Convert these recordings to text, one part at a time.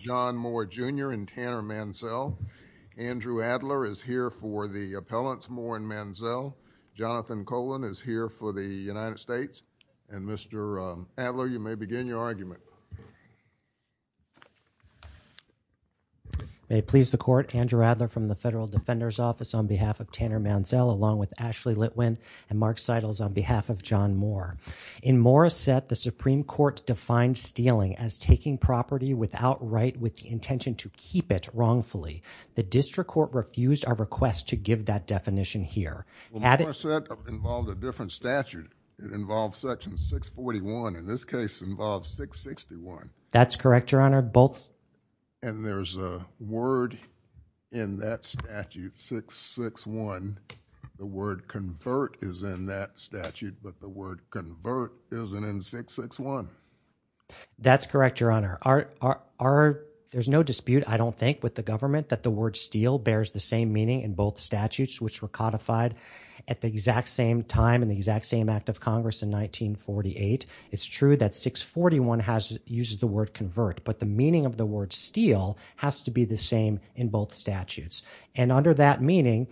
Jr. and Tanner Mansell. Andrew Adler is here for the appellants Moore and Mansell. Jonathan Colan is here for the United States. And Mr. Adler, you may begin your argument. May it please the court, Andrew Adler from the Federal Defender's Office on behalf of Tanner Mansell along with Ashley Litwin and Mark Seidels on behalf of John Moore. In Moore's set, the intention to keep it wrongfully. The district court refused our request to give that definition here. Well, Moore's set involved a different statute. It involved section 641. In this case, involved 661. That's correct, your honor. And there's a word in that statute, 661. The word convert is in that statute, but the word convert isn't in 661. That's correct, your honor. There's no dispute, I don't think, with the government that the word steal bears the same meaning in both statutes which were codified at the exact same time in the exact same act of Congress in 1948. It's true that 641 uses the word convert, but the meaning of the word steal has to be the same in both statutes. And under that meaning,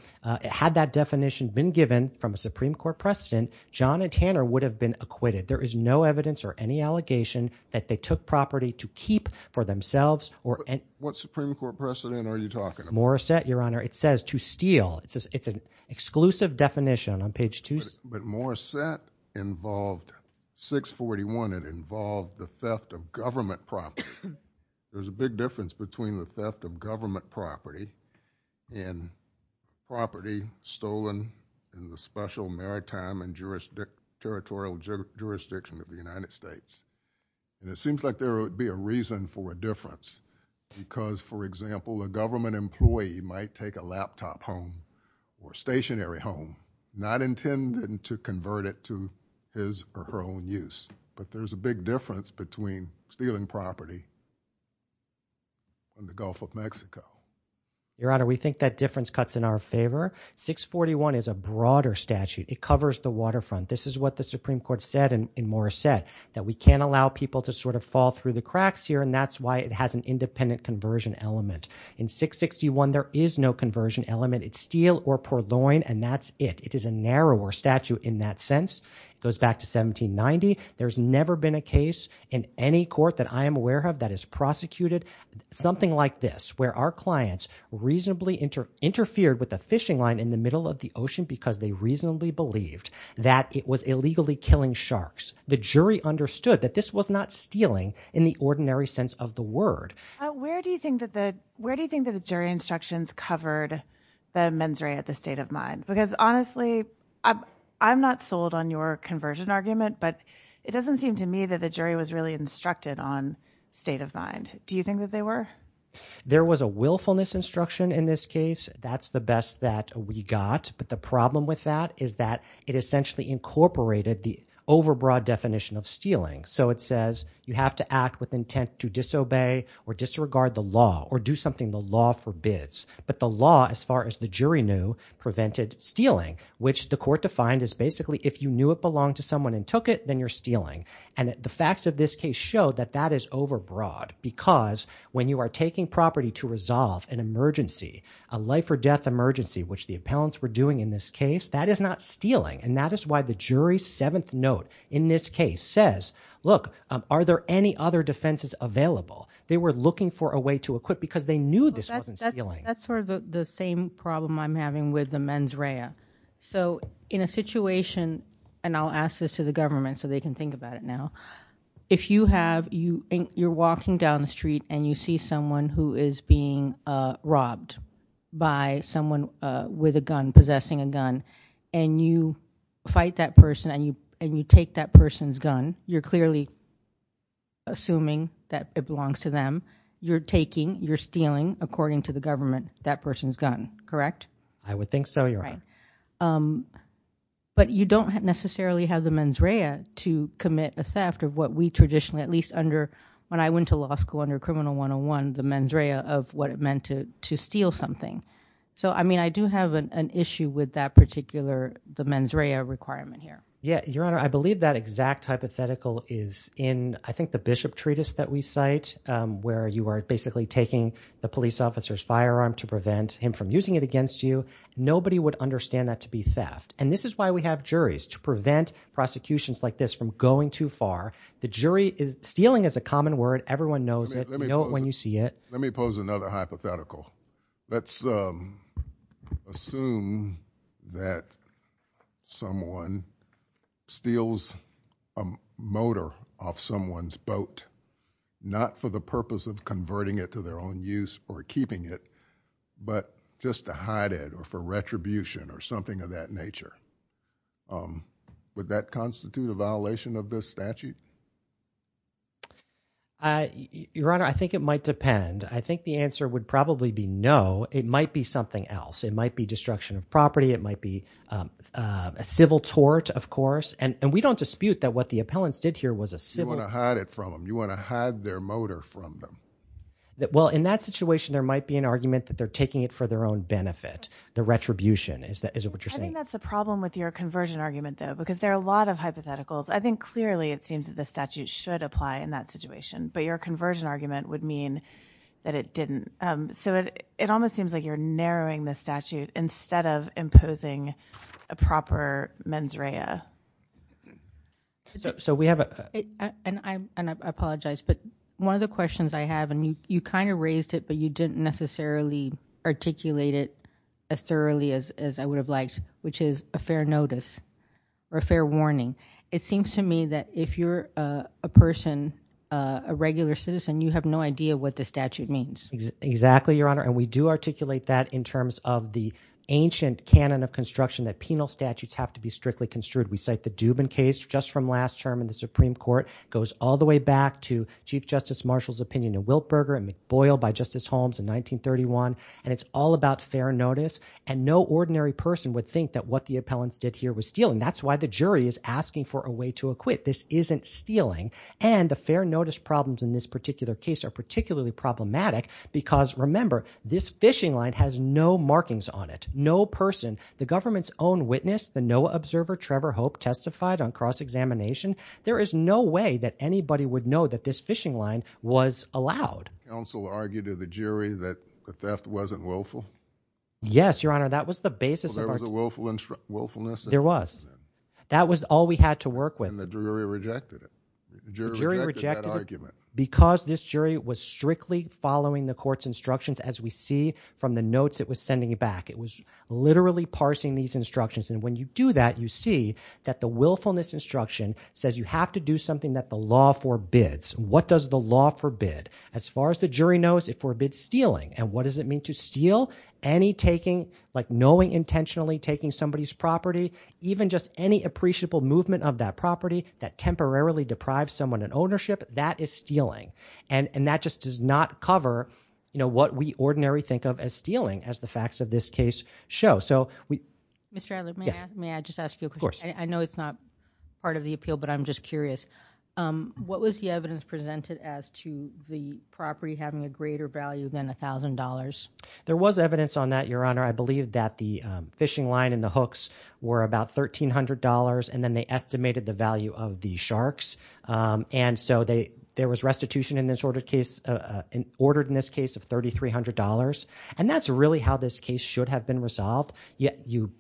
had that definition been given from a Supreme Court precedent, John and Tanner would have been acquitted. There is no allegation that they took property to keep for themselves. What Supreme Court precedent are you talking about? Moore's set, your honor, it says to steal. It's an exclusive definition on page 2. But Moore's set involved 641. It involved the theft of government property. There's a big difference between the theft of government property and property stolen in the special maritime and territorial jurisdiction of the United States. And it seems like there would be a reason for a difference because, for example, a government employee might take a laptop home or stationary home not intended to convert it to his or her own use. But there's a big difference between stealing property from the Gulf of Mexico. Your honor, we think that difference cuts in our statute. It covers the waterfront. This is what the Supreme Court said in Moore's set, that we can't allow people to sort of fall through the cracks here, and that's why it has an independent conversion element. In 661, there is no conversion element. It's steal or purloin, and that's it. It is a narrower statute in that sense. It goes back to 1790. There's never been a case in any court that I am aware of that is prosecuted something like this, where our clients reasonably interfered with a fishing line in the middle of the ocean because they reasonably believed that it was illegally killing sharks. The jury understood that this was not stealing in the ordinary sense of the word. Where do you think that the jury instructions covered the mens rea at the state of mind? Because honestly, I'm not sold on your conversion argument, but it doesn't seem to me that the jury was really instructed on state of mind. Do you think that There was a willfulness instruction in this case. That's the best that we got, but the problem with that is that it essentially incorporated the overbroad definition of stealing. So it says, you have to act with intent to disobey or disregard the law or do something the law forbids. But the law, as far as the jury knew, prevented stealing, which the court defined as basically, if you knew it belonged to someone and took it, then you're stealing. And the facts of this case show that that is overbroad because when you are taking property to resolve an emergency, a life or death emergency, which the appellants were doing in this case, that is not stealing. And that is why the jury's seventh note in this case says, look, are there any other defenses available? They were looking for a way to equip because they knew this wasn't stealing. That's sort of the same problem I'm having with the mens rea. So in a situation, and I'll ask this to the government so they can think about it now. If you have, you're walking down the street and you see someone who is being robbed by someone with a gun, possessing a gun, and you fight that person and you take that person's gun, you're clearly assuming that it belongs to them. You're taking, you're stealing according to the government, that person's gun, correct? I would think so, your honor. But you don't necessarily have the mens rea to commit a theft of what we traditionally, at least under when I went to law school under criminal 101, the mens rea of what it meant to steal something. So I mean, I do have an issue with that particular, the mens rea requirement here. Yeah, your honor, I believe that exact hypothetical is in, I think, the Bishop Treatise that we cite, where you are basically taking the police officer's firearm to nobody would understand that to be theft. And this is why we have juries to prevent prosecutions like this from going too far. The jury is, stealing is a common word. Everyone knows it when you see it. Let me pose another hypothetical. Let's assume that someone steals a motor off someone's boat, not for the purpose of converting it to their own use or just to hide it or for retribution or something of that nature. Would that constitute a violation of this statute? Your honor, I think it might depend. I think the answer would probably be no. It might be something else. It might be destruction of property. It might be a civil tort, of course. And we don't dispute that what the appellants did here was a civil- You want to hide it from them. You want to hide their motor from them. Well, in that situation, there might be an argument that they're taking it for their own benefit, the retribution. Is that what you're saying? I think that's the problem with your conversion argument, though, because there are a lot of hypotheticals. I think clearly it seems that the statute should apply in that situation, but your conversion argument would mean that it didn't. So it almost seems like you're narrowing the statute instead of imposing a proper mens rea. And I apologize, but one of the questions I have, and you kind of raised it, but you didn't necessarily articulate it as thoroughly as I would have liked, which is a fair notice or a fair warning. It seems to me that if you're a person, a regular citizen, you have no idea what the statute means. Exactly, your honor. And we do articulate that in terms of the ancient canon of construction that penal statutes have to strictly construed. We cite the Dubin case just from last term in the Supreme Court. It goes all the way back to Chief Justice Marshall's opinion in Wiltberger and McBoyle by Justice Holmes in 1931. And it's all about fair notice. And no ordinary person would think that what the appellants did here was stealing. That's why the jury is asking for a way to acquit. This isn't stealing. And the fair notice problems in this particular case are particularly problematic because, remember, this fishing line has no markings on it. No person, the government's witness, the NOAA observer, Trevor Hope, testified on cross-examination. There is no way that anybody would know that this fishing line was allowed. Counsel argued to the jury that the theft wasn't willful? Yes, your honor, that was the basis. There was a willfulness? There was. That was all we had to work with. And the jury rejected it. The jury rejected that argument. Because this jury was strictly following the court's instructions, as we see from the notes it was sending back. It was literally parsing these instructions. And when you do that, you see that the willfulness instruction says you have to do something that the law forbids. What does the law forbid? As far as the jury knows, it forbids stealing. And what does it mean to steal? Any taking, like knowing intentionally taking somebody's property, even just any appreciable movement of that property that temporarily deprives someone of ownership, that is stealing. And that just does not cover what we ordinarily think of as stealing, as the facts of this case show. Mr. Adler, may I just ask you a question? I know it's not part of the appeal, but I'm just curious. What was the evidence presented as to the property having a greater value than $1,000? There was evidence on that, your honor. I believe that the fishing line and the hooks were about $1,300, and then they estimated the value of the sharks. And so there was restitution in this case of $3,300. And that's really how this case should have been resolved. We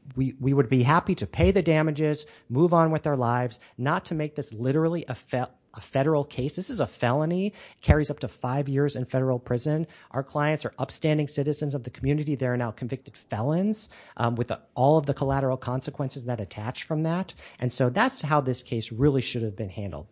would be happy to pay the damages, move on with our lives, not to make this literally a federal case. This is a felony. It carries up to five years in federal prison. Our clients are upstanding citizens of the community. They are now convicted felons with all of the collateral consequences that attach from that. And so that's how this case really should have been handled.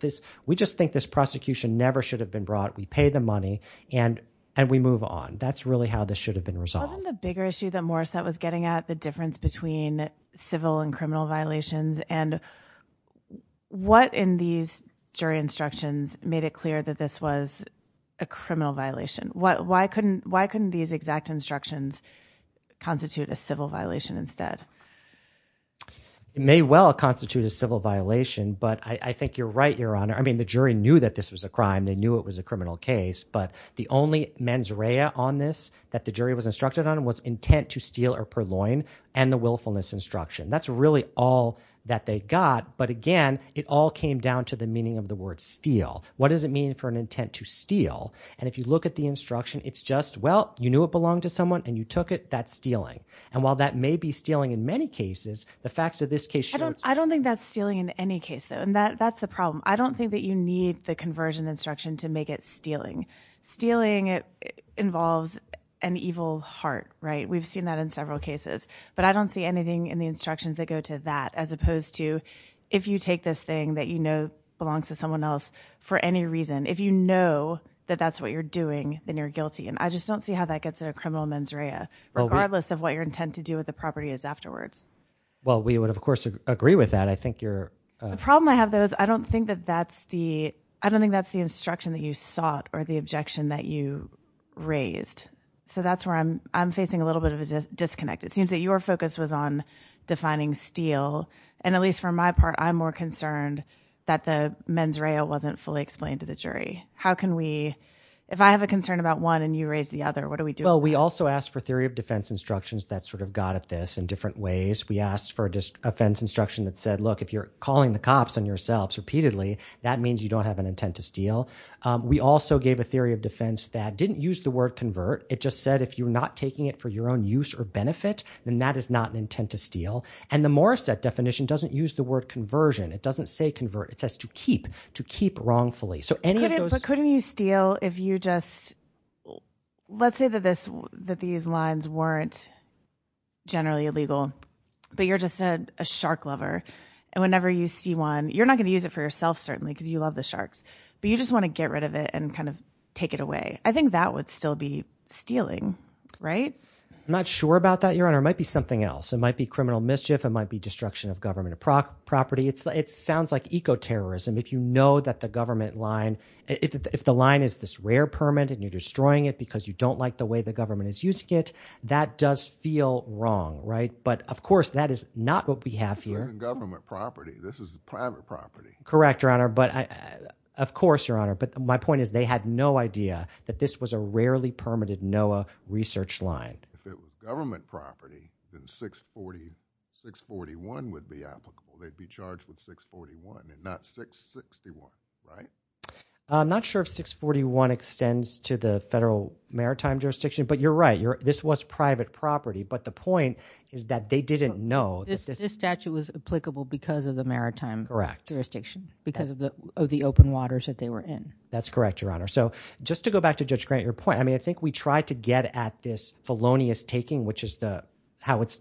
We just think this prosecution never should have been brought. We pay the money and we move on. That's really how this should have been resolved. Wasn't the bigger issue that Morissette was getting at the difference between civil and criminal violations? And what in these jury instructions made it clear that this was a criminal violation? Why couldn't these exact instructions constitute a civil violation instead? It may well constitute a civil violation, but I think you're right, Your Honor. I mean, the jury knew that this was a crime. They knew it was a criminal case. But the only mens rea on this that the jury was instructed on was intent to steal or purloin and the willfulness instruction. That's really all that they got. But again, it all came down to the meaning of the word steal. What does it mean for an intent to steal? And if you look at the instruction, it's just, well, you knew it belonged to someone and you took it, that's stealing. And while that may be stealing in many cases, the facts of this case show. I don't think that's stealing in any case, though. And that's the problem. I don't think that you need the conversion instruction to make it stealing. Stealing involves an evil heart, right? We've seen that in several cases. But I don't see anything in the instructions that go to that as opposed to if you take this thing that you know belongs to someone else for any reason, if you know that that's what you're doing, then you're guilty. And I just don't see how that gets in a criminal mens rea, regardless of what your intent to do with the property is afterwards. Well, we would, of course, agree with that. I think you're... The problem I have, though, is I don't think that that's the... I don't think that's the instruction that you sought or the objection that you raised. So that's where I'm facing a little bit of a disconnect. It seems that your focus was on defining steal. And at least for my part, I'm more concerned that the mens rea wasn't fully explained to the jury. How can we... If I have a concern about one and you raise the other, what do we do? We also asked for theory of defense instructions that sort of got at this in different ways. We asked for a defense instruction that said, look, if you're calling the cops on yourselves repeatedly, that means you don't have an intent to steal. We also gave a theory of defense that didn't use the word convert. It just said if you're not taking it for your own use or benefit, then that is not an intent to steal. And the Morrissette definition doesn't use the word conversion. It doesn't say convert. It says to keep, to keep wrongfully. So any of those... But couldn't you steal if you just... Let's say that these lines weren't generally illegal, but you're just a shark lover. And whenever you see one, you're not going to use it for yourself, certainly, because you love the sharks. But you just want to get rid of it and kind of take it away. I think that would still be stealing, right? I'm not sure about that, Your Honor. It might be something else. It might be criminal mischief. It might be destruction of government property. It sounds like eco-terrorism. If you know that the government line... If the line is this rare permit and you're destroying it, because you don't like the way the government is using it, that does feel wrong, right? But of course, that is not what we have here. This isn't government property. This is private property. Correct, Your Honor. But of course, Your Honor. But my point is they had no idea that this was a rarely permitted NOAA research line. If it was government property, then 641 would be applicable. They'd be charged with 641 and not 661, right? I'm not sure if 641 extends to the federal maritime jurisdiction, but you're right. This was private property. But the point is that they didn't know. This statute was applicable because of the maritime jurisdiction, because of the open waters that they were in. That's correct, Your Honor. So just to go back to Judge Grant, your point, I mean, I think we tried to get at this felonious taking, which is how it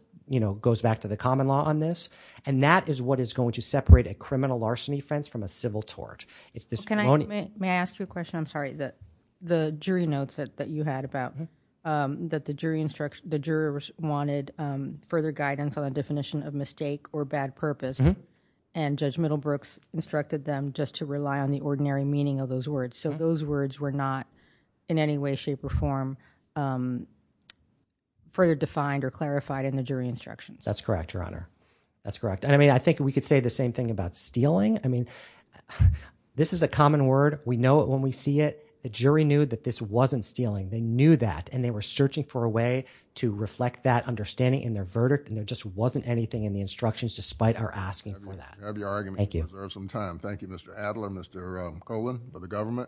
goes back to the common law on this. And that is what is going to separate a criminal arson offense from a civil tort. It's this felony. May I ask you a question? I'm sorry. The jury notes that you had about that the jurors wanted further guidance on the definition of mistake or bad purpose. And Judge Middlebrooks instructed them just to rely on the ordinary meaning of those words. So those words were not in any way, shape, or form further defined or clarified in the jury instructions. That's correct, Your Honor. That's correct. I mean, I think we could say the same thing about stealing. I mean, this is a common word. We know it when we see it. The jury knew that this wasn't stealing. They knew that. And they were searching for a way to reflect that understanding in their verdict. And there just wasn't anything in the instructions, despite our asking for that. I'd be arguing to reserve some time. Thank you, Mr. Adler. Mr. Colan for the government.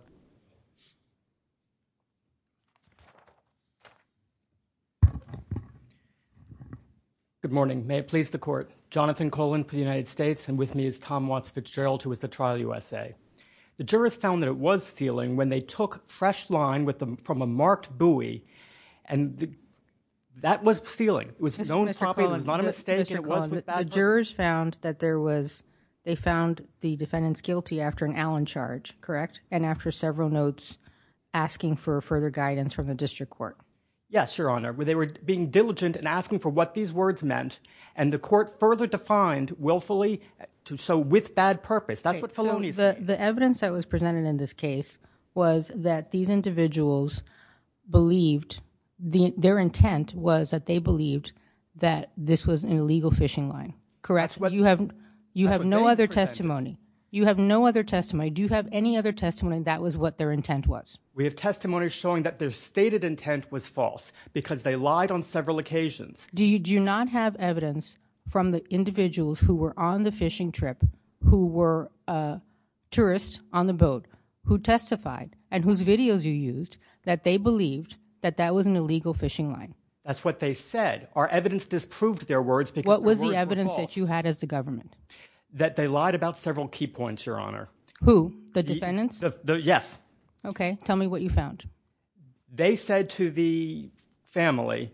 Good morning. May it please the court. Jonathan Colan for the United States. And with me is Tom Watts Fitzgerald, who was the trial USA. The jurors found that it was stealing when they took fresh line from a marked buoy. And that was stealing. It was known property. It was not a mistake. Mr. Colan, the jurors found that they found the defendants guilty after an Allen charge, correct? And after several notes asking for further guidance from the district court. Yes, Your Honor. They were being diligent and asking for what these words meant. And the court further defined willfully to show with bad purpose. That's what the evidence that was presented in this case was that these individuals believed their intent was that they believed that this was an illegal fishing line. Correct. What you have, you have no other testimony. You have no other testimony. Do you have any other testimony that was what their intent was? We have testimony showing that their stated intent was false because they lied on several occasions. Do you do not have evidence from the individuals who were on the fishing trip, who were a tourist on the boat who testified and whose videos you used that they believed that that was an illegal fishing line? That's what they said. Our evidence disproved their words. What was the evidence that you had as the government? That they lied about several key points, Your Honor. Who? The defendants? Yes. Okay. Tell me what you found. They said to the family,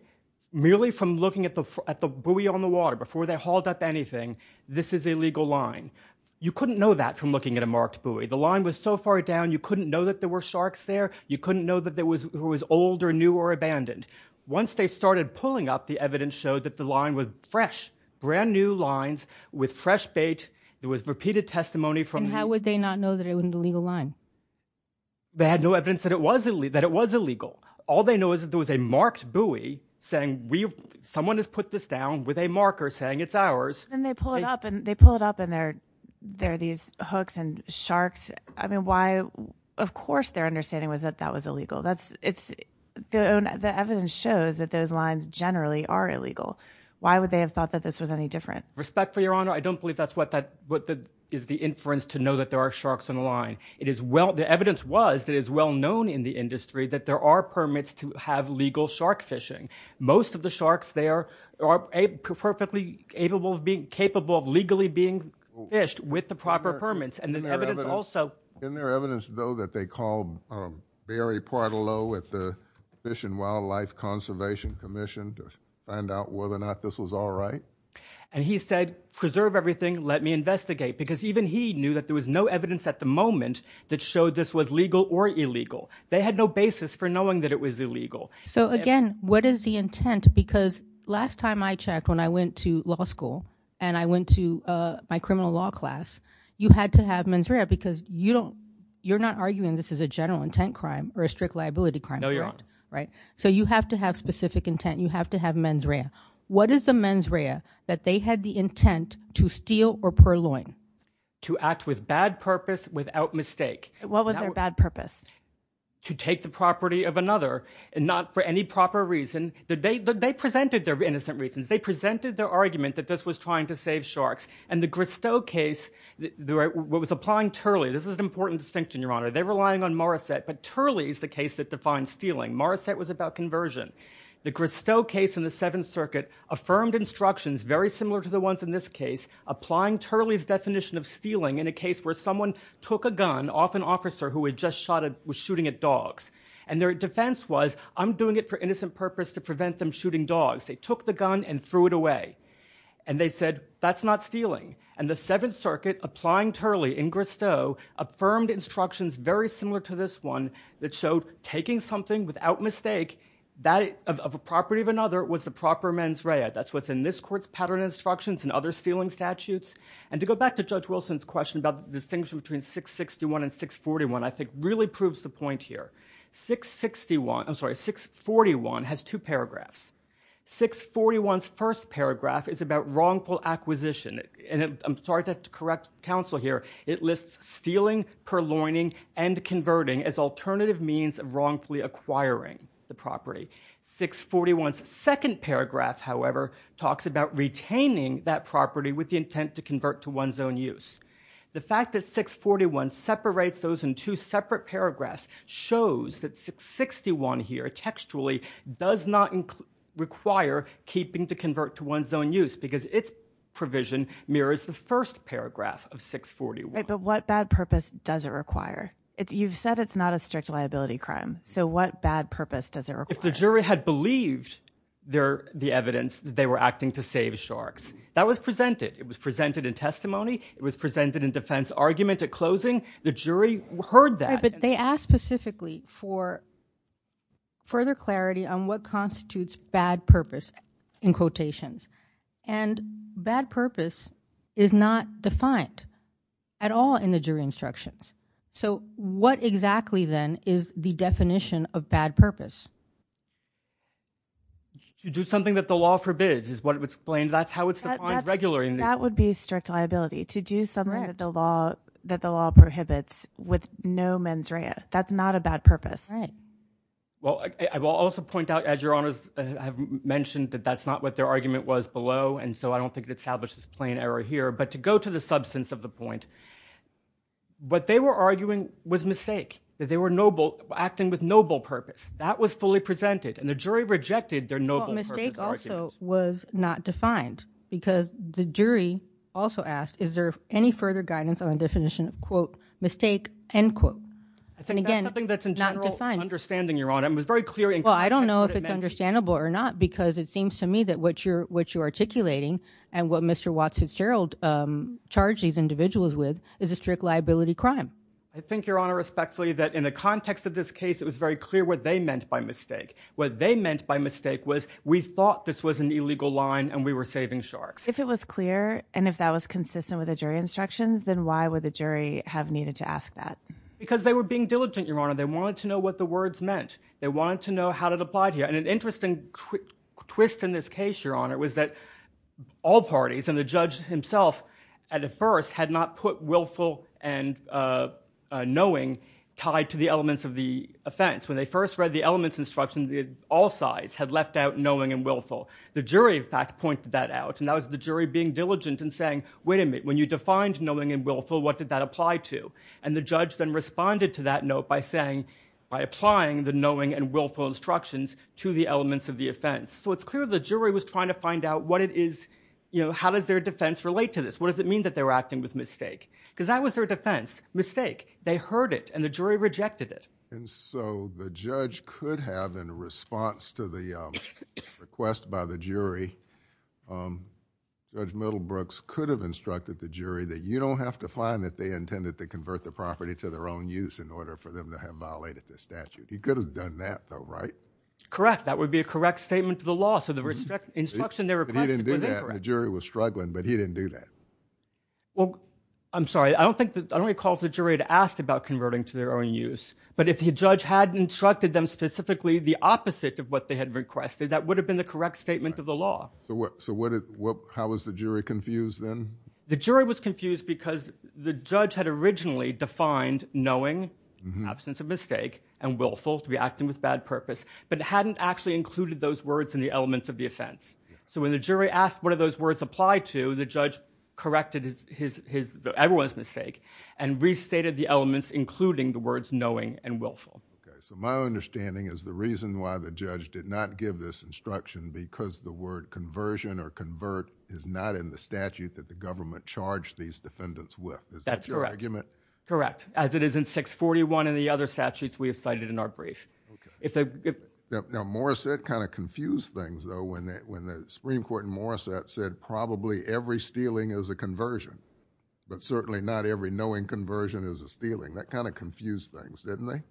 merely from looking at the buoy on the water before they hauled up anything, this is illegal line. You couldn't know that from looking at a marked buoy. The line was so far down, you couldn't know that there were sharks there. You couldn't know that there was who was old or new or abandoned. Once they started pulling up, the evidence showed that the line was fresh, brand new lines with fresh bait. There was repeated testimony from- How would they not know that it was an illegal line? They had no evidence that it was illegal. All they know is that there was a marked buoy saying, someone has put this down with a marker saying it's ours. And they pull it up and they pull it up and there are these hooks and sharks. I mean, why? Of course, their understanding was that that was illegal. The evidence shows that those lines generally are illegal. Why would they have thought that this was any different? Respect for Your Honor, I don't believe that's what is the inference to know that there are sharks on the line. The evidence was that it's well known in the industry that there are permits to have legal shark fishing. Most of the sharks there are perfectly capable of legally being fished with the proper permits. And there's evidence also- Isn't there evidence, though, that they called Barry Portillo at the Fish and Wildlife Conservation Commission to find out whether or not this was all right? And he said, preserve everything, let me investigate. Because even he knew that there was no evidence at the moment that showed this was legal or illegal. They had no basis for knowing that it was illegal. So again, what is the intent? Because last time I checked, when I went to law school, and I went to my criminal law class, you had to have mens rea because you're not arguing this is a general intent crime or a strict liability crime. No, Your Honor. Right? So you have to have specific intent. You have to have mens rea. What is the mens rea that they had the intent to steal or purloin? To act with bad purpose without mistake. What was their bad purpose? To take the property of another, and not for any proper reason. They presented their innocent reasons. They presented their argument that this was trying to save sharks. And the Gristow case, what was applying Turley, this is an important distinction, Your Honor. They were relying on Morissette. But Turley is the case that defines stealing. Morissette was about conversion. The Gristow case in the Seventh Circuit affirmed instructions very similar to the ones in this applying Turley's definition of stealing in a case where someone took a gun off an officer who was just shooting at dogs. And their defense was, I'm doing it for innocent purpose to prevent them shooting dogs. They took the gun and threw it away. And they said, that's not stealing. And the Seventh Circuit, applying Turley in Gristow, affirmed instructions very similar to this one that showed taking something without mistake of a property of another was the proper mens rea. That's what's in this court's pattern instructions and other stealing statutes. And to go back to Judge Wilson's question about the distinction between 661 and 641, I think, really proves the point here. 641 has two paragraphs. 641's first paragraph is about wrongful acquisition. And I'm sorry to have to correct counsel here. It lists stealing, purloining, and converting as alternative means of wrongfully acquiring the property. 641's second paragraph, however, talks about retaining that property with the intent to convert to one's own use. The fact that 641 separates those in two separate paragraphs shows that 661 here, textually, does not require keeping to convert to one's own use because its provision mirrors the first paragraph of 641. But what bad purpose does it require? You've said it's not a strict liability crime. So what bad purpose does it require? If the jury had believed the evidence that they were acting to save sharks, that was presented. It was presented in testimony. It was presented in defense argument at closing. The jury heard that. But they asked specifically for further clarity on what constitutes bad purpose in quotations. And bad purpose is not defined at all in the jury instructions. So what exactly, then, is the definition of bad purpose? To do something that the law forbids is what it would explain. That's how it's defined regularly. That would be strict liability. To do something that the law prohibits with no mens rea. That's not a bad purpose. Well, I will also point out, as your honors have mentioned, that that's not what their argument was below. And so I don't think it establishes plain error here. But to go to the substance of the point, what they were arguing was mistake. That they were acting with noble purpose. That was fully presented. And the jury rejected their noble purpose argument. Well, mistake also was not defined. Because the jury also asked, is there any further guidance on the definition of, quote, mistake, end quote. I think that's something that's in general understanding, your honor. And it was very clear. Well, I don't know if it's understandable or not. Because it seems to me that what you're articulating and what Mr. Watts Fitzgerald charged these individuals with is a strict liability crime. I think, your honor, respectfully, that in the context of this case, it was very clear what they meant by mistake. What they meant by mistake was, we thought this was an illegal line, and we were saving sharks. If it was clear, and if that was consistent with the jury instructions, then why would the jury have needed to ask that? Because they were being diligent, your honor. They wanted to know what the words meant. They wanted to know how it applied here. And an interesting twist in this case, your honor, was that all parties, and the judge himself at first, had not put willful and knowing tied to the elements of the offense. When they first read the elements instructions, all sides had left out knowing and willful. The jury, in fact, pointed that out. And that was the jury being diligent and saying, wait a minute, when you defined knowing and willful, what did that apply to? And the judge then responded to that note by saying, by applying the knowing and willful instructions to the elements of the offense. So it's clear the jury was trying to find out what it is, how does their defense relate to this? What does it mean that they were acting with mistake? Because that was their defense, mistake. They heard it, and the jury rejected it. And so the judge could have, in response to the request by the jury, Judge Middlebrooks could have instructed the jury that you don't have to find that they intended to convert the property to their own use in order for them to have violated the statute. He could have done that, though, right? Correct. That would be a correct statement to the law. So the instruction they requested was incorrect. The jury was struggling, but he didn't do that. Well, I'm sorry. I don't recall if the jury had asked about converting to their own use. But if the judge had instructed them specifically the opposite of what they had requested, that would have been the correct statement of the law. So how was the jury confused then? The jury was confused because the judge had originally defined knowing, absence of mistake, and willful, to be acting with bad purpose, but hadn't actually included those words in the elements of the offense. So when the jury asked what do those words apply to, the judge corrected everyone's mistake and restated the elements, including the words knowing and willful. Okay. So my understanding is the reason why the judge did not give this instruction because the word conversion or convert is not in the statute that the government charged these defendants with. Is that your argument? Correct. As it is in 641 and the other statutes we have cited in our brief. Now, Morrissette kind of confused things, though, when the Supreme Court in Morrissette said probably every stealing is a conversion, but certainly not every knowing conversion is a stealing. That kind of confused things, didn't it?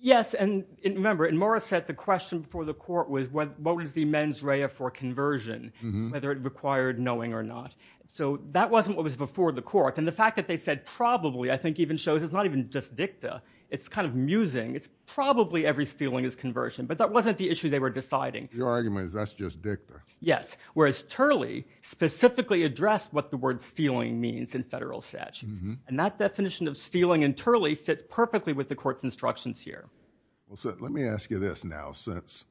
Yes. And remember, in Morrissette, the question for the court was what was the mens rea for conversion, whether it required knowing or not. So that wasn't what was before the court. And the fact that they said probably I think even shows it's not even just dicta. It's kind of musing. It's probably every stealing is conversion. But that wasn't the issue they were deciding. Your argument is that's just dicta. Yes. Whereas Turley specifically addressed what the word stealing means in federal statutes. And that definition of stealing in Turley fits perfectly with the court's instructions here. Well, so let me ask you this now, since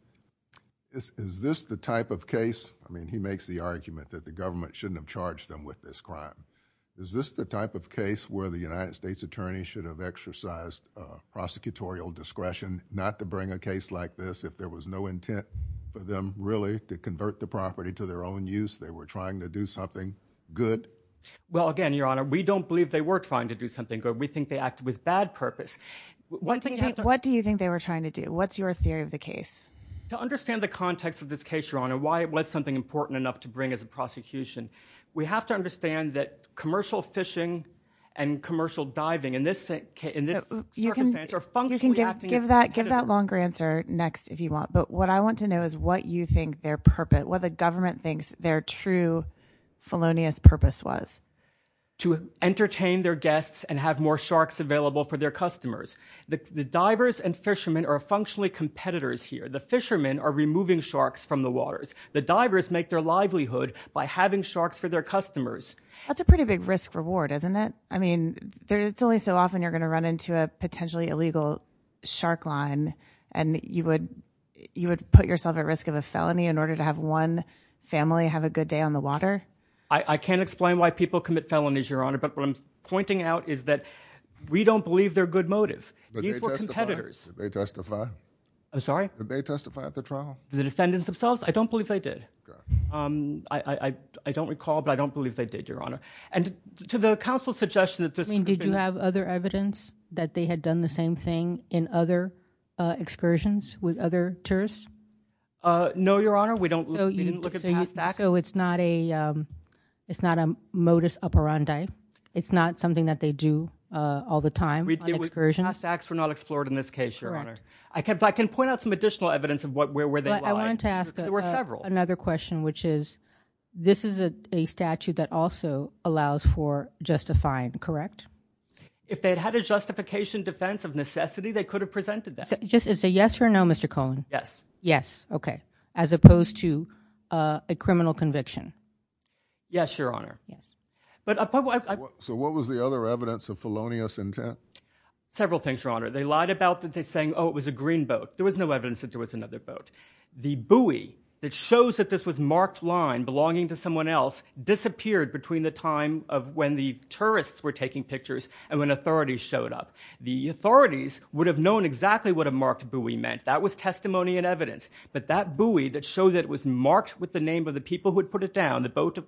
is this the type of case, I mean, he makes the argument that the government shouldn't have charged them with this crime. Is this the type of case where the United States attorney should have exercised prosecutorial discretion not to bring a case like this if there was no intent for them really to convert the property to their own use? They were trying to do something good. Well, again, Your Honor, we don't believe they were trying to do something good. We think they act with bad purpose. What do you think they were trying to do? What's your theory of the case? To understand the context of this case, Your Honor, why it was something important enough to bring as a prosecution, we have to understand that commercial fishing and commercial diving in this case, in this circumstance, are functionally acting. Give that longer answer next if you want. But what I want to know is what you think their purpose, what the government thinks their true felonious purpose was. To entertain their guests and have more sharks available for their customers. The divers and fishermen are functionally competitors here. The fishermen are removing sharks from the waters. The divers make their livelihood by having sharks for their customers. That's a pretty big risk-reward, isn't it? I mean, it's only so often you're going to run into a potentially illegal shark line and you would put yourself at risk of a felony in order to have one family have a good day on the water. I can't explain why people commit felonies, Your Honor. But what I'm pointing out is that we don't believe they're good motive. These were competitors. Did they testify? I'm sorry? Did they testify at the trial? The defendants themselves? I don't believe they did. I don't recall, but I don't believe they did, Your Honor. And to the counsel's suggestion that this could be— that they had done the same thing in other excursions with other tourists? No, Your Honor. We didn't look at past acts. So it's not a modus operandi? It's not something that they do all the time on excursions? Past acts were not explored in this case, Your Honor. I can point out some additional evidence of where they lied. I wanted to ask another question, which is, this is a statute that also allows for justifying, correct? If they'd had a justification defense of necessity, they could have presented that. Just as a yes or no, Mr. Cohen? Yes. Yes, okay. As opposed to a criminal conviction? Yes, Your Honor. So what was the other evidence of felonious intent? Several things, Your Honor. They lied about saying, oh, it was a green boat. There was no evidence that there was another boat. The buoy that shows that this was marked line belonging to someone else disappeared between the time of when the tourists were taking pictures and when authorities showed up. The authorities would have known exactly what a marked buoy meant. That was testimony and evidence. But that buoy that showed that it was marked with the name of the people who had put it down, the boat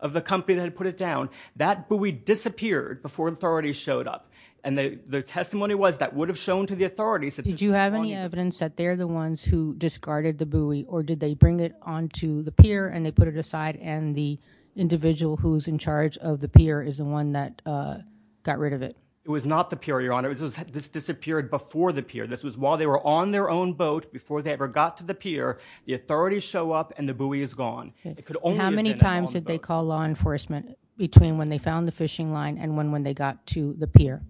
of the company that had put it down, that buoy disappeared before authorities showed up. And the testimony was that would have shown to the authorities that there's someone else. Did you have any evidence that they're the ones who discarded the buoy? Or did they bring it onto the pier and they put it aside and the individual who's in charge of the pier is the one that got rid of it? It was not the pier, Your Honor. This disappeared before the pier. This was while they were on their own boat before they ever got to the pier. The authorities show up and the buoy is gone. How many times did they call law enforcement between when they found the fishing line and when they got to the pier?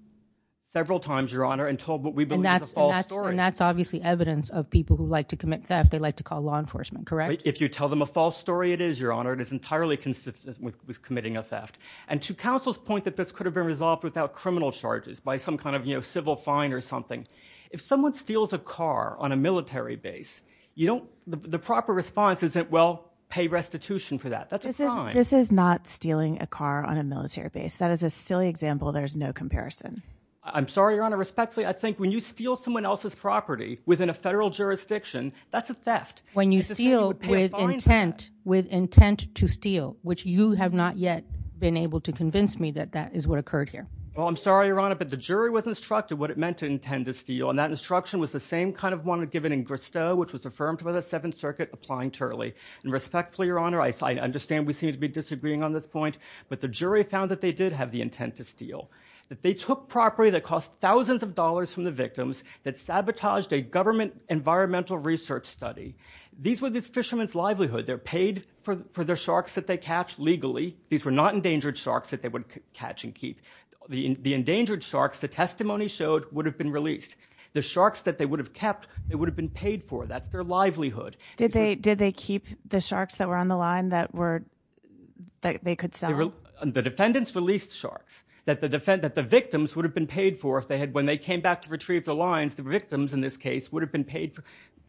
Several times, Your Honor, until what we believe is a false story. And that's obviously evidence of people who like to commit theft. They like to call law enforcement, correct? If you tell them a false story, it is, Your Honor, it is entirely consistent with committing a theft. And to counsel's point that this could have been resolved without criminal charges by some kind of civil fine or something. If someone steals a car on a military base, the proper response is that, well, pay restitution for that. That's a crime. This is not stealing a car on a military base. That is a silly example. There's no comparison. I'm sorry, Your Honor. Respectfully, I think when you steal someone else's property within a federal jurisdiction, that's a theft. When you steal with intent, with intent to steal, which you have not yet been able to convince me that that is what occurred here. Well, I'm sorry, Your Honor, but the jury was instructed what it meant to intend to steal. And that instruction was the same kind of one given in Gristow, which was affirmed by the Seventh Circuit applying Turley. And respectfully, Your Honor, I understand we seem to be disagreeing on this point, but the jury found that they did have the intent to steal. That they took property that cost thousands of dollars from the victims that sabotaged a government environmental research study. These were the fishermen's livelihood. They're paid for their sharks that they catch legally. These were not endangered sharks that they would catch and keep. The endangered sharks, the testimony showed, would have been released. The sharks that they would have kept, they would have been paid for. That's their livelihood. Did they keep the sharks that were on the line that they could sell? The defendants released sharks that the victims would have been paid for if they had, when this case, would have been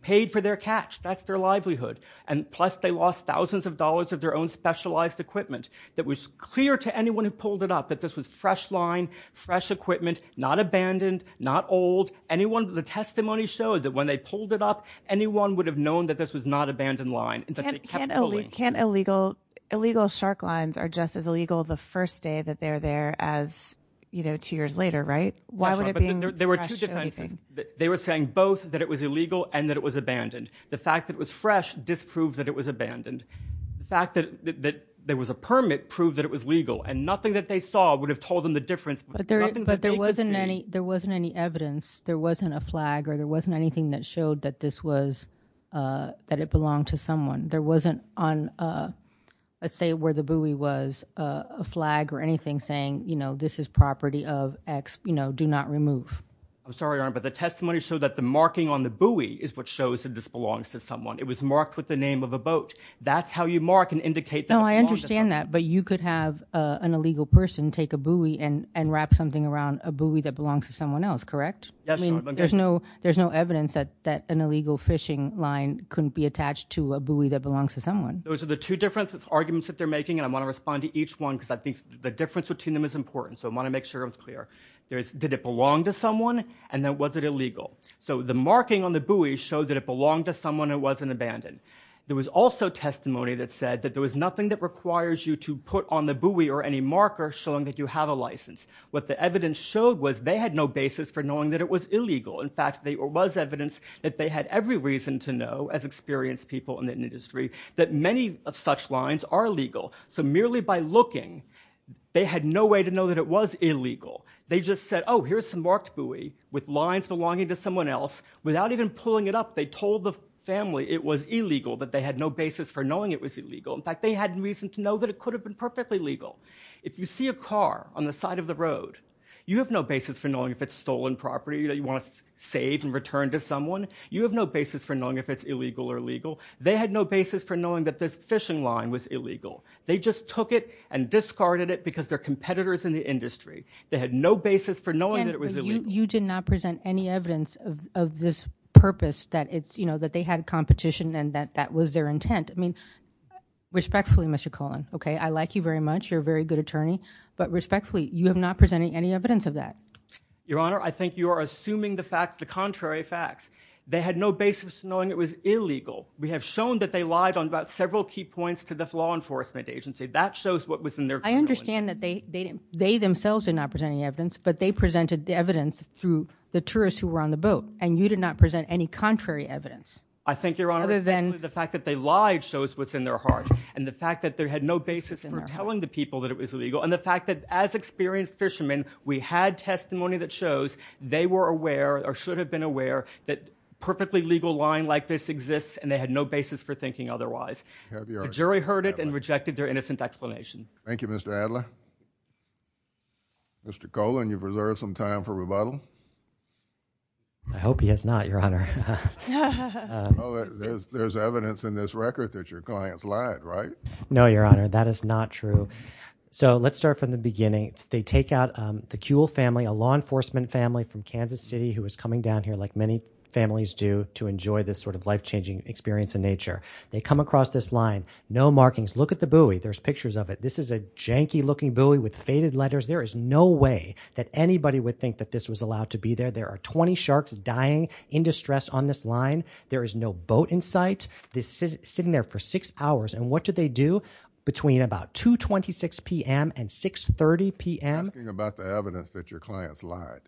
paid for their catch. That's their livelihood. And plus, they lost thousands of dollars of their own specialized equipment that was clear to anyone who pulled it up that this was fresh line, fresh equipment, not abandoned, not old. Anyone, the testimony showed that when they pulled it up, anyone would have known that this was not abandoned line. And that they kept pulling. Can't illegal shark lines are just as illegal the first day that they're there as, you know, two years later, right? There were two defenses. They were saying both that it was illegal and that it was abandoned. The fact that it was fresh disproved that it was abandoned. The fact that there was a permit proved that it was legal and nothing that they saw would have told them the difference. But there wasn't any, there wasn't any evidence. There wasn't a flag or there wasn't anything that showed that this was, that it belonged to someone. There wasn't on, let's say where the buoy was, a flag or anything saying, you know, do not remove. I'm sorry, but the testimony show that the marking on the buoy is what shows that this belongs to someone. It was marked with the name of a boat. That's how you mark and indicate that. No, I understand that. But you could have an illegal person take a buoy and, and wrap something around a buoy that belongs to someone else. Correct? Yes. There's no, there's no evidence that, that an illegal fishing line couldn't be attached to a buoy that belongs to someone. Those are the two differences arguments that they're making. And I want to respond to each one because I think the difference between them is important. So I want to make sure it's clear. There's, did it belong to someone? And then was it illegal? So the marking on the buoy showed that it belonged to someone who wasn't abandoned. There was also testimony that said that there was nothing that requires you to put on the buoy or any marker showing that you have a license. What the evidence showed was they had no basis for knowing that it was illegal. In fact, there was evidence that they had every reason to know, as experienced people in the industry, that many of such lines are legal. So merely by looking, they had no way to know that it was illegal. They just said, oh, here's some marked buoy with lines belonging to someone else. Without even pulling it up, they told the family it was illegal, that they had no basis for knowing it was illegal. In fact, they had reason to know that it could have been perfectly legal. If you see a car on the side of the road, you have no basis for knowing if it's stolen property that you want to save and return to someone. You have no basis for knowing if it's illegal or legal. They had no basis for knowing that this fishing line was illegal. They just took it and discarded it because they're competitors in the industry. They had no basis for knowing that it was illegal. You did not present any evidence of this purpose, that it's, you know, that they had competition and that that was their intent. I mean, respectfully, Mr. Cohen, okay, I like you very much. You're a very good attorney. But respectfully, you have not presented any evidence of that. Your Honor, I think you are assuming the facts, the contrary facts. They had no basis for knowing it was illegal. We have shown that they lied on about several key points to the law enforcement agency. That shows what was in their- I understand that they themselves did not present any evidence. But they presented the evidence through the tourists who were on the boat. And you did not present any contrary evidence. I think, Your Honor, the fact that they lied shows what's in their heart. And the fact that they had no basis for telling the people that it was illegal. And the fact that as experienced fishermen, we had testimony that shows they were aware or should have been aware that a perfectly legal line like this exists. And they had no basis for thinking otherwise. The jury heard it and rejected their innocent explanation. Thank you, Mr. Adler. Mr. Cohen, you've reserved some time for rebuttal. I hope he has not, Your Honor. There's evidence in this record that your clients lied, right? No, Your Honor, that is not true. So let's start from the beginning. They take out the Kuehl family, a law enforcement family from Kansas City who is coming down here, like many families do, to enjoy this sort of life-changing experience in nature. They come across this line. No markings. Look at the buoy. There's pictures of it. This is a janky-looking buoy with faded letters. There is no way that anybody would think that this was allowed to be there. There are 20 sharks dying in distress on this line. There is no boat in sight. They're sitting there for six hours. And what do they do between about 2.26 p.m. and 6.30 p.m.? You're asking about the evidence that your clients lied.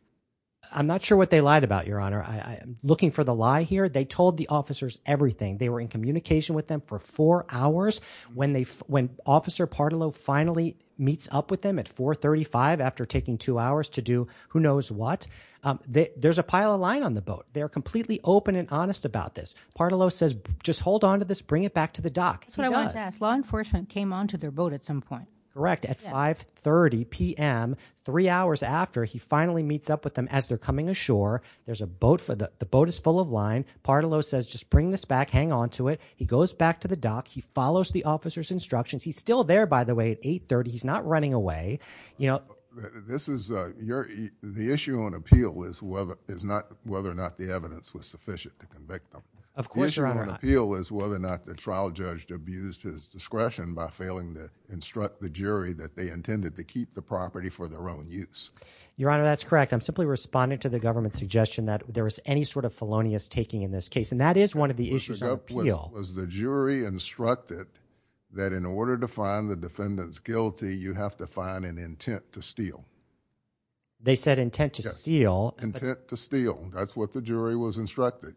I'm not sure what they lied about, Your Honor. I'm looking for the lie here. They told the officers everything. They were in communication with them for four hours. When Officer Pardolo finally meets up with them at 4.35 after taking two hours to do who knows what, there's a pile of line on the boat. They're completely open and honest about this. Pardolo says, just hold on to this. Bring it back to the dock. That's what I wanted to ask. Law enforcement came onto their boat at some point. Correct. At 5.30 p.m., three hours after, he finally meets up with them as they're coming ashore. There's a boat. The boat is full of line. Pardolo says, just bring this back. Hang on to it. He goes back to the dock. He follows the officer's instructions. He's still there, by the way, at 8.30. He's not running away. The issue on appeal is whether or not the evidence was sufficient to convict them. Of course, Your Honor. The issue on appeal is whether or not the trial judge abused his discretion by failing to that they intended to keep the property for their own use. Your Honor, that's correct. I'm simply responding to the government's suggestion that there was any sort of felonious taking in this case, and that is one of the issues on appeal. Was the jury instructed that in order to find the defendants guilty, you have to find an intent to steal? They said intent to steal. Intent to steal. That's what the jury was instructed.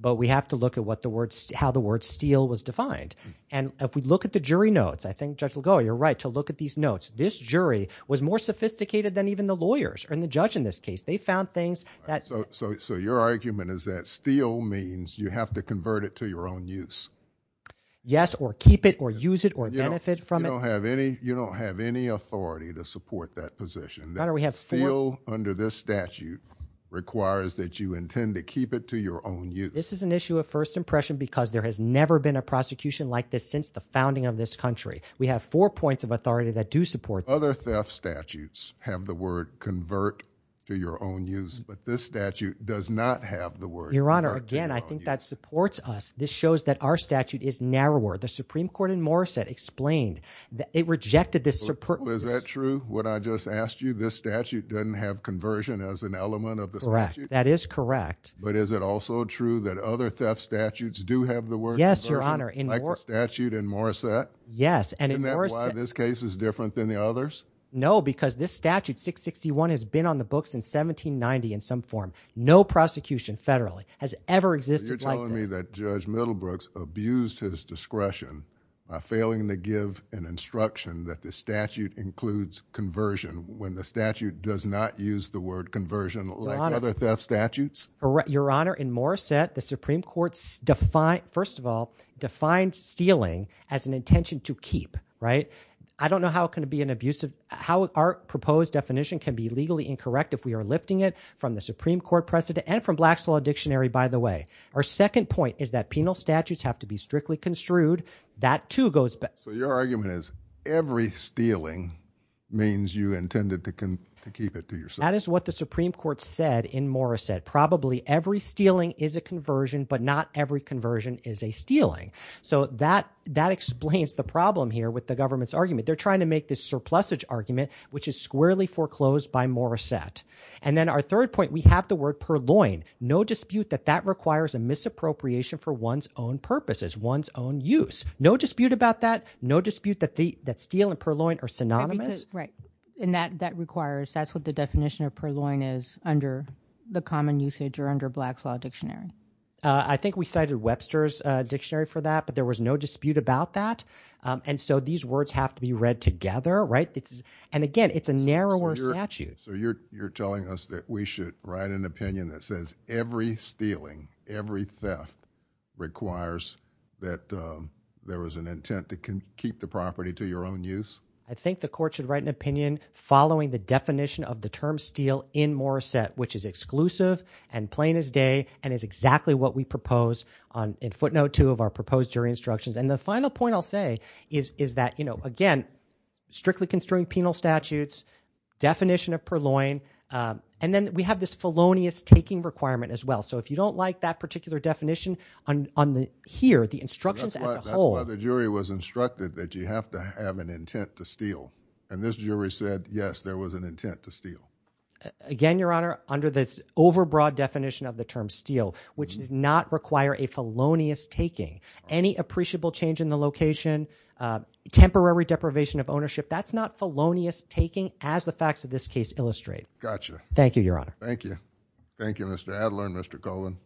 But we have to look at how the word steal was defined. And if we look at the jury notes, I think Judge Lagoa, you're right to look at these notes. This jury was more sophisticated than even the lawyers or the judge in this case. They found things that— So your argument is that steal means you have to convert it to your own use? Yes, or keep it or use it or benefit from it. You don't have any authority to support that position. Your Honor, we have four— This is an issue of first impression because there has never been a prosecution like this since the founding of this country. We have four points of authority that do support— Other theft statutes have the word convert to your own use, but this statute does not have the word convert to your own use. Your Honor, again, I think that supports us. This shows that our statute is narrower. The Supreme Court in Morrissette explained that it rejected the— Was that true, what I just asked you? This statute doesn't have conversion as an element of the statute? Correct. That is correct. But is it also true that other theft statutes do have the word— Yes, Your Honor, in— Like the statute in Morrissette? Yes, and in— Isn't that why this case is different than the others? No, because this statute, 661, has been on the books since 1790 in some form. No prosecution federally has ever existed like this. So you're telling me that Judge Middlebrooks abused his discretion by failing to give an instruction that the statute includes conversion when the statute does not use the word conversion like other theft statutes? Your Honor, in Morrissette, the Supreme Court, first of all, defined stealing as an intention to keep, right? I don't know how it can be an abusive— how our proposed definition can be legally incorrect if we are lifting it from the Supreme Court precedent and from Black's Law Dictionary, by the way. Our second point is that penal statutes have to be strictly construed. That, too, goes back— So your argument is every stealing means you intended to keep it to yourself? That is what the Supreme Court said in Morrissette. Probably every stealing is a conversion, but not every conversion is a stealing. So that explains the problem here with the government's argument. They're trying to make this surplusage argument, which is squarely foreclosed by Morrissette. And then our third point, we have the word purloin. No dispute that that requires a misappropriation for one's own purposes, one's own use. No dispute about that. No dispute that steal and purloin are synonymous. Right. And that requires—that's what the definition of purloin is under the common usage or under Black's Law Dictionary. I think we cited Webster's Dictionary for that, but there was no dispute about that. And so these words have to be read together, right? And again, it's a narrower statute. So you're telling us that we should write an opinion that says every stealing, every theft requires that there was an intent to keep the property to your own use? I think the court should write an opinion following the definition of the term steal in Morrissette, which is exclusive and plain as day and is exactly what we propose in footnote two of our proposed jury instructions. And the final point I'll say is that, you know, again, strictly construing penal statutes, definition of purloin, and then we have this felonious taking requirement as well. So if you don't like that particular definition here, the instructions as a whole— And this jury said, yes, there was an intent to steal. Again, Your Honor, under this overbroad definition of the term steal, which did not require a felonious taking, any appreciable change in the location, temporary deprivation of ownership, that's not felonious taking as the facts of this case illustrate. Gotcha. Thank you, Your Honor. Thank you, Mr. Adler and Mr. Cullen.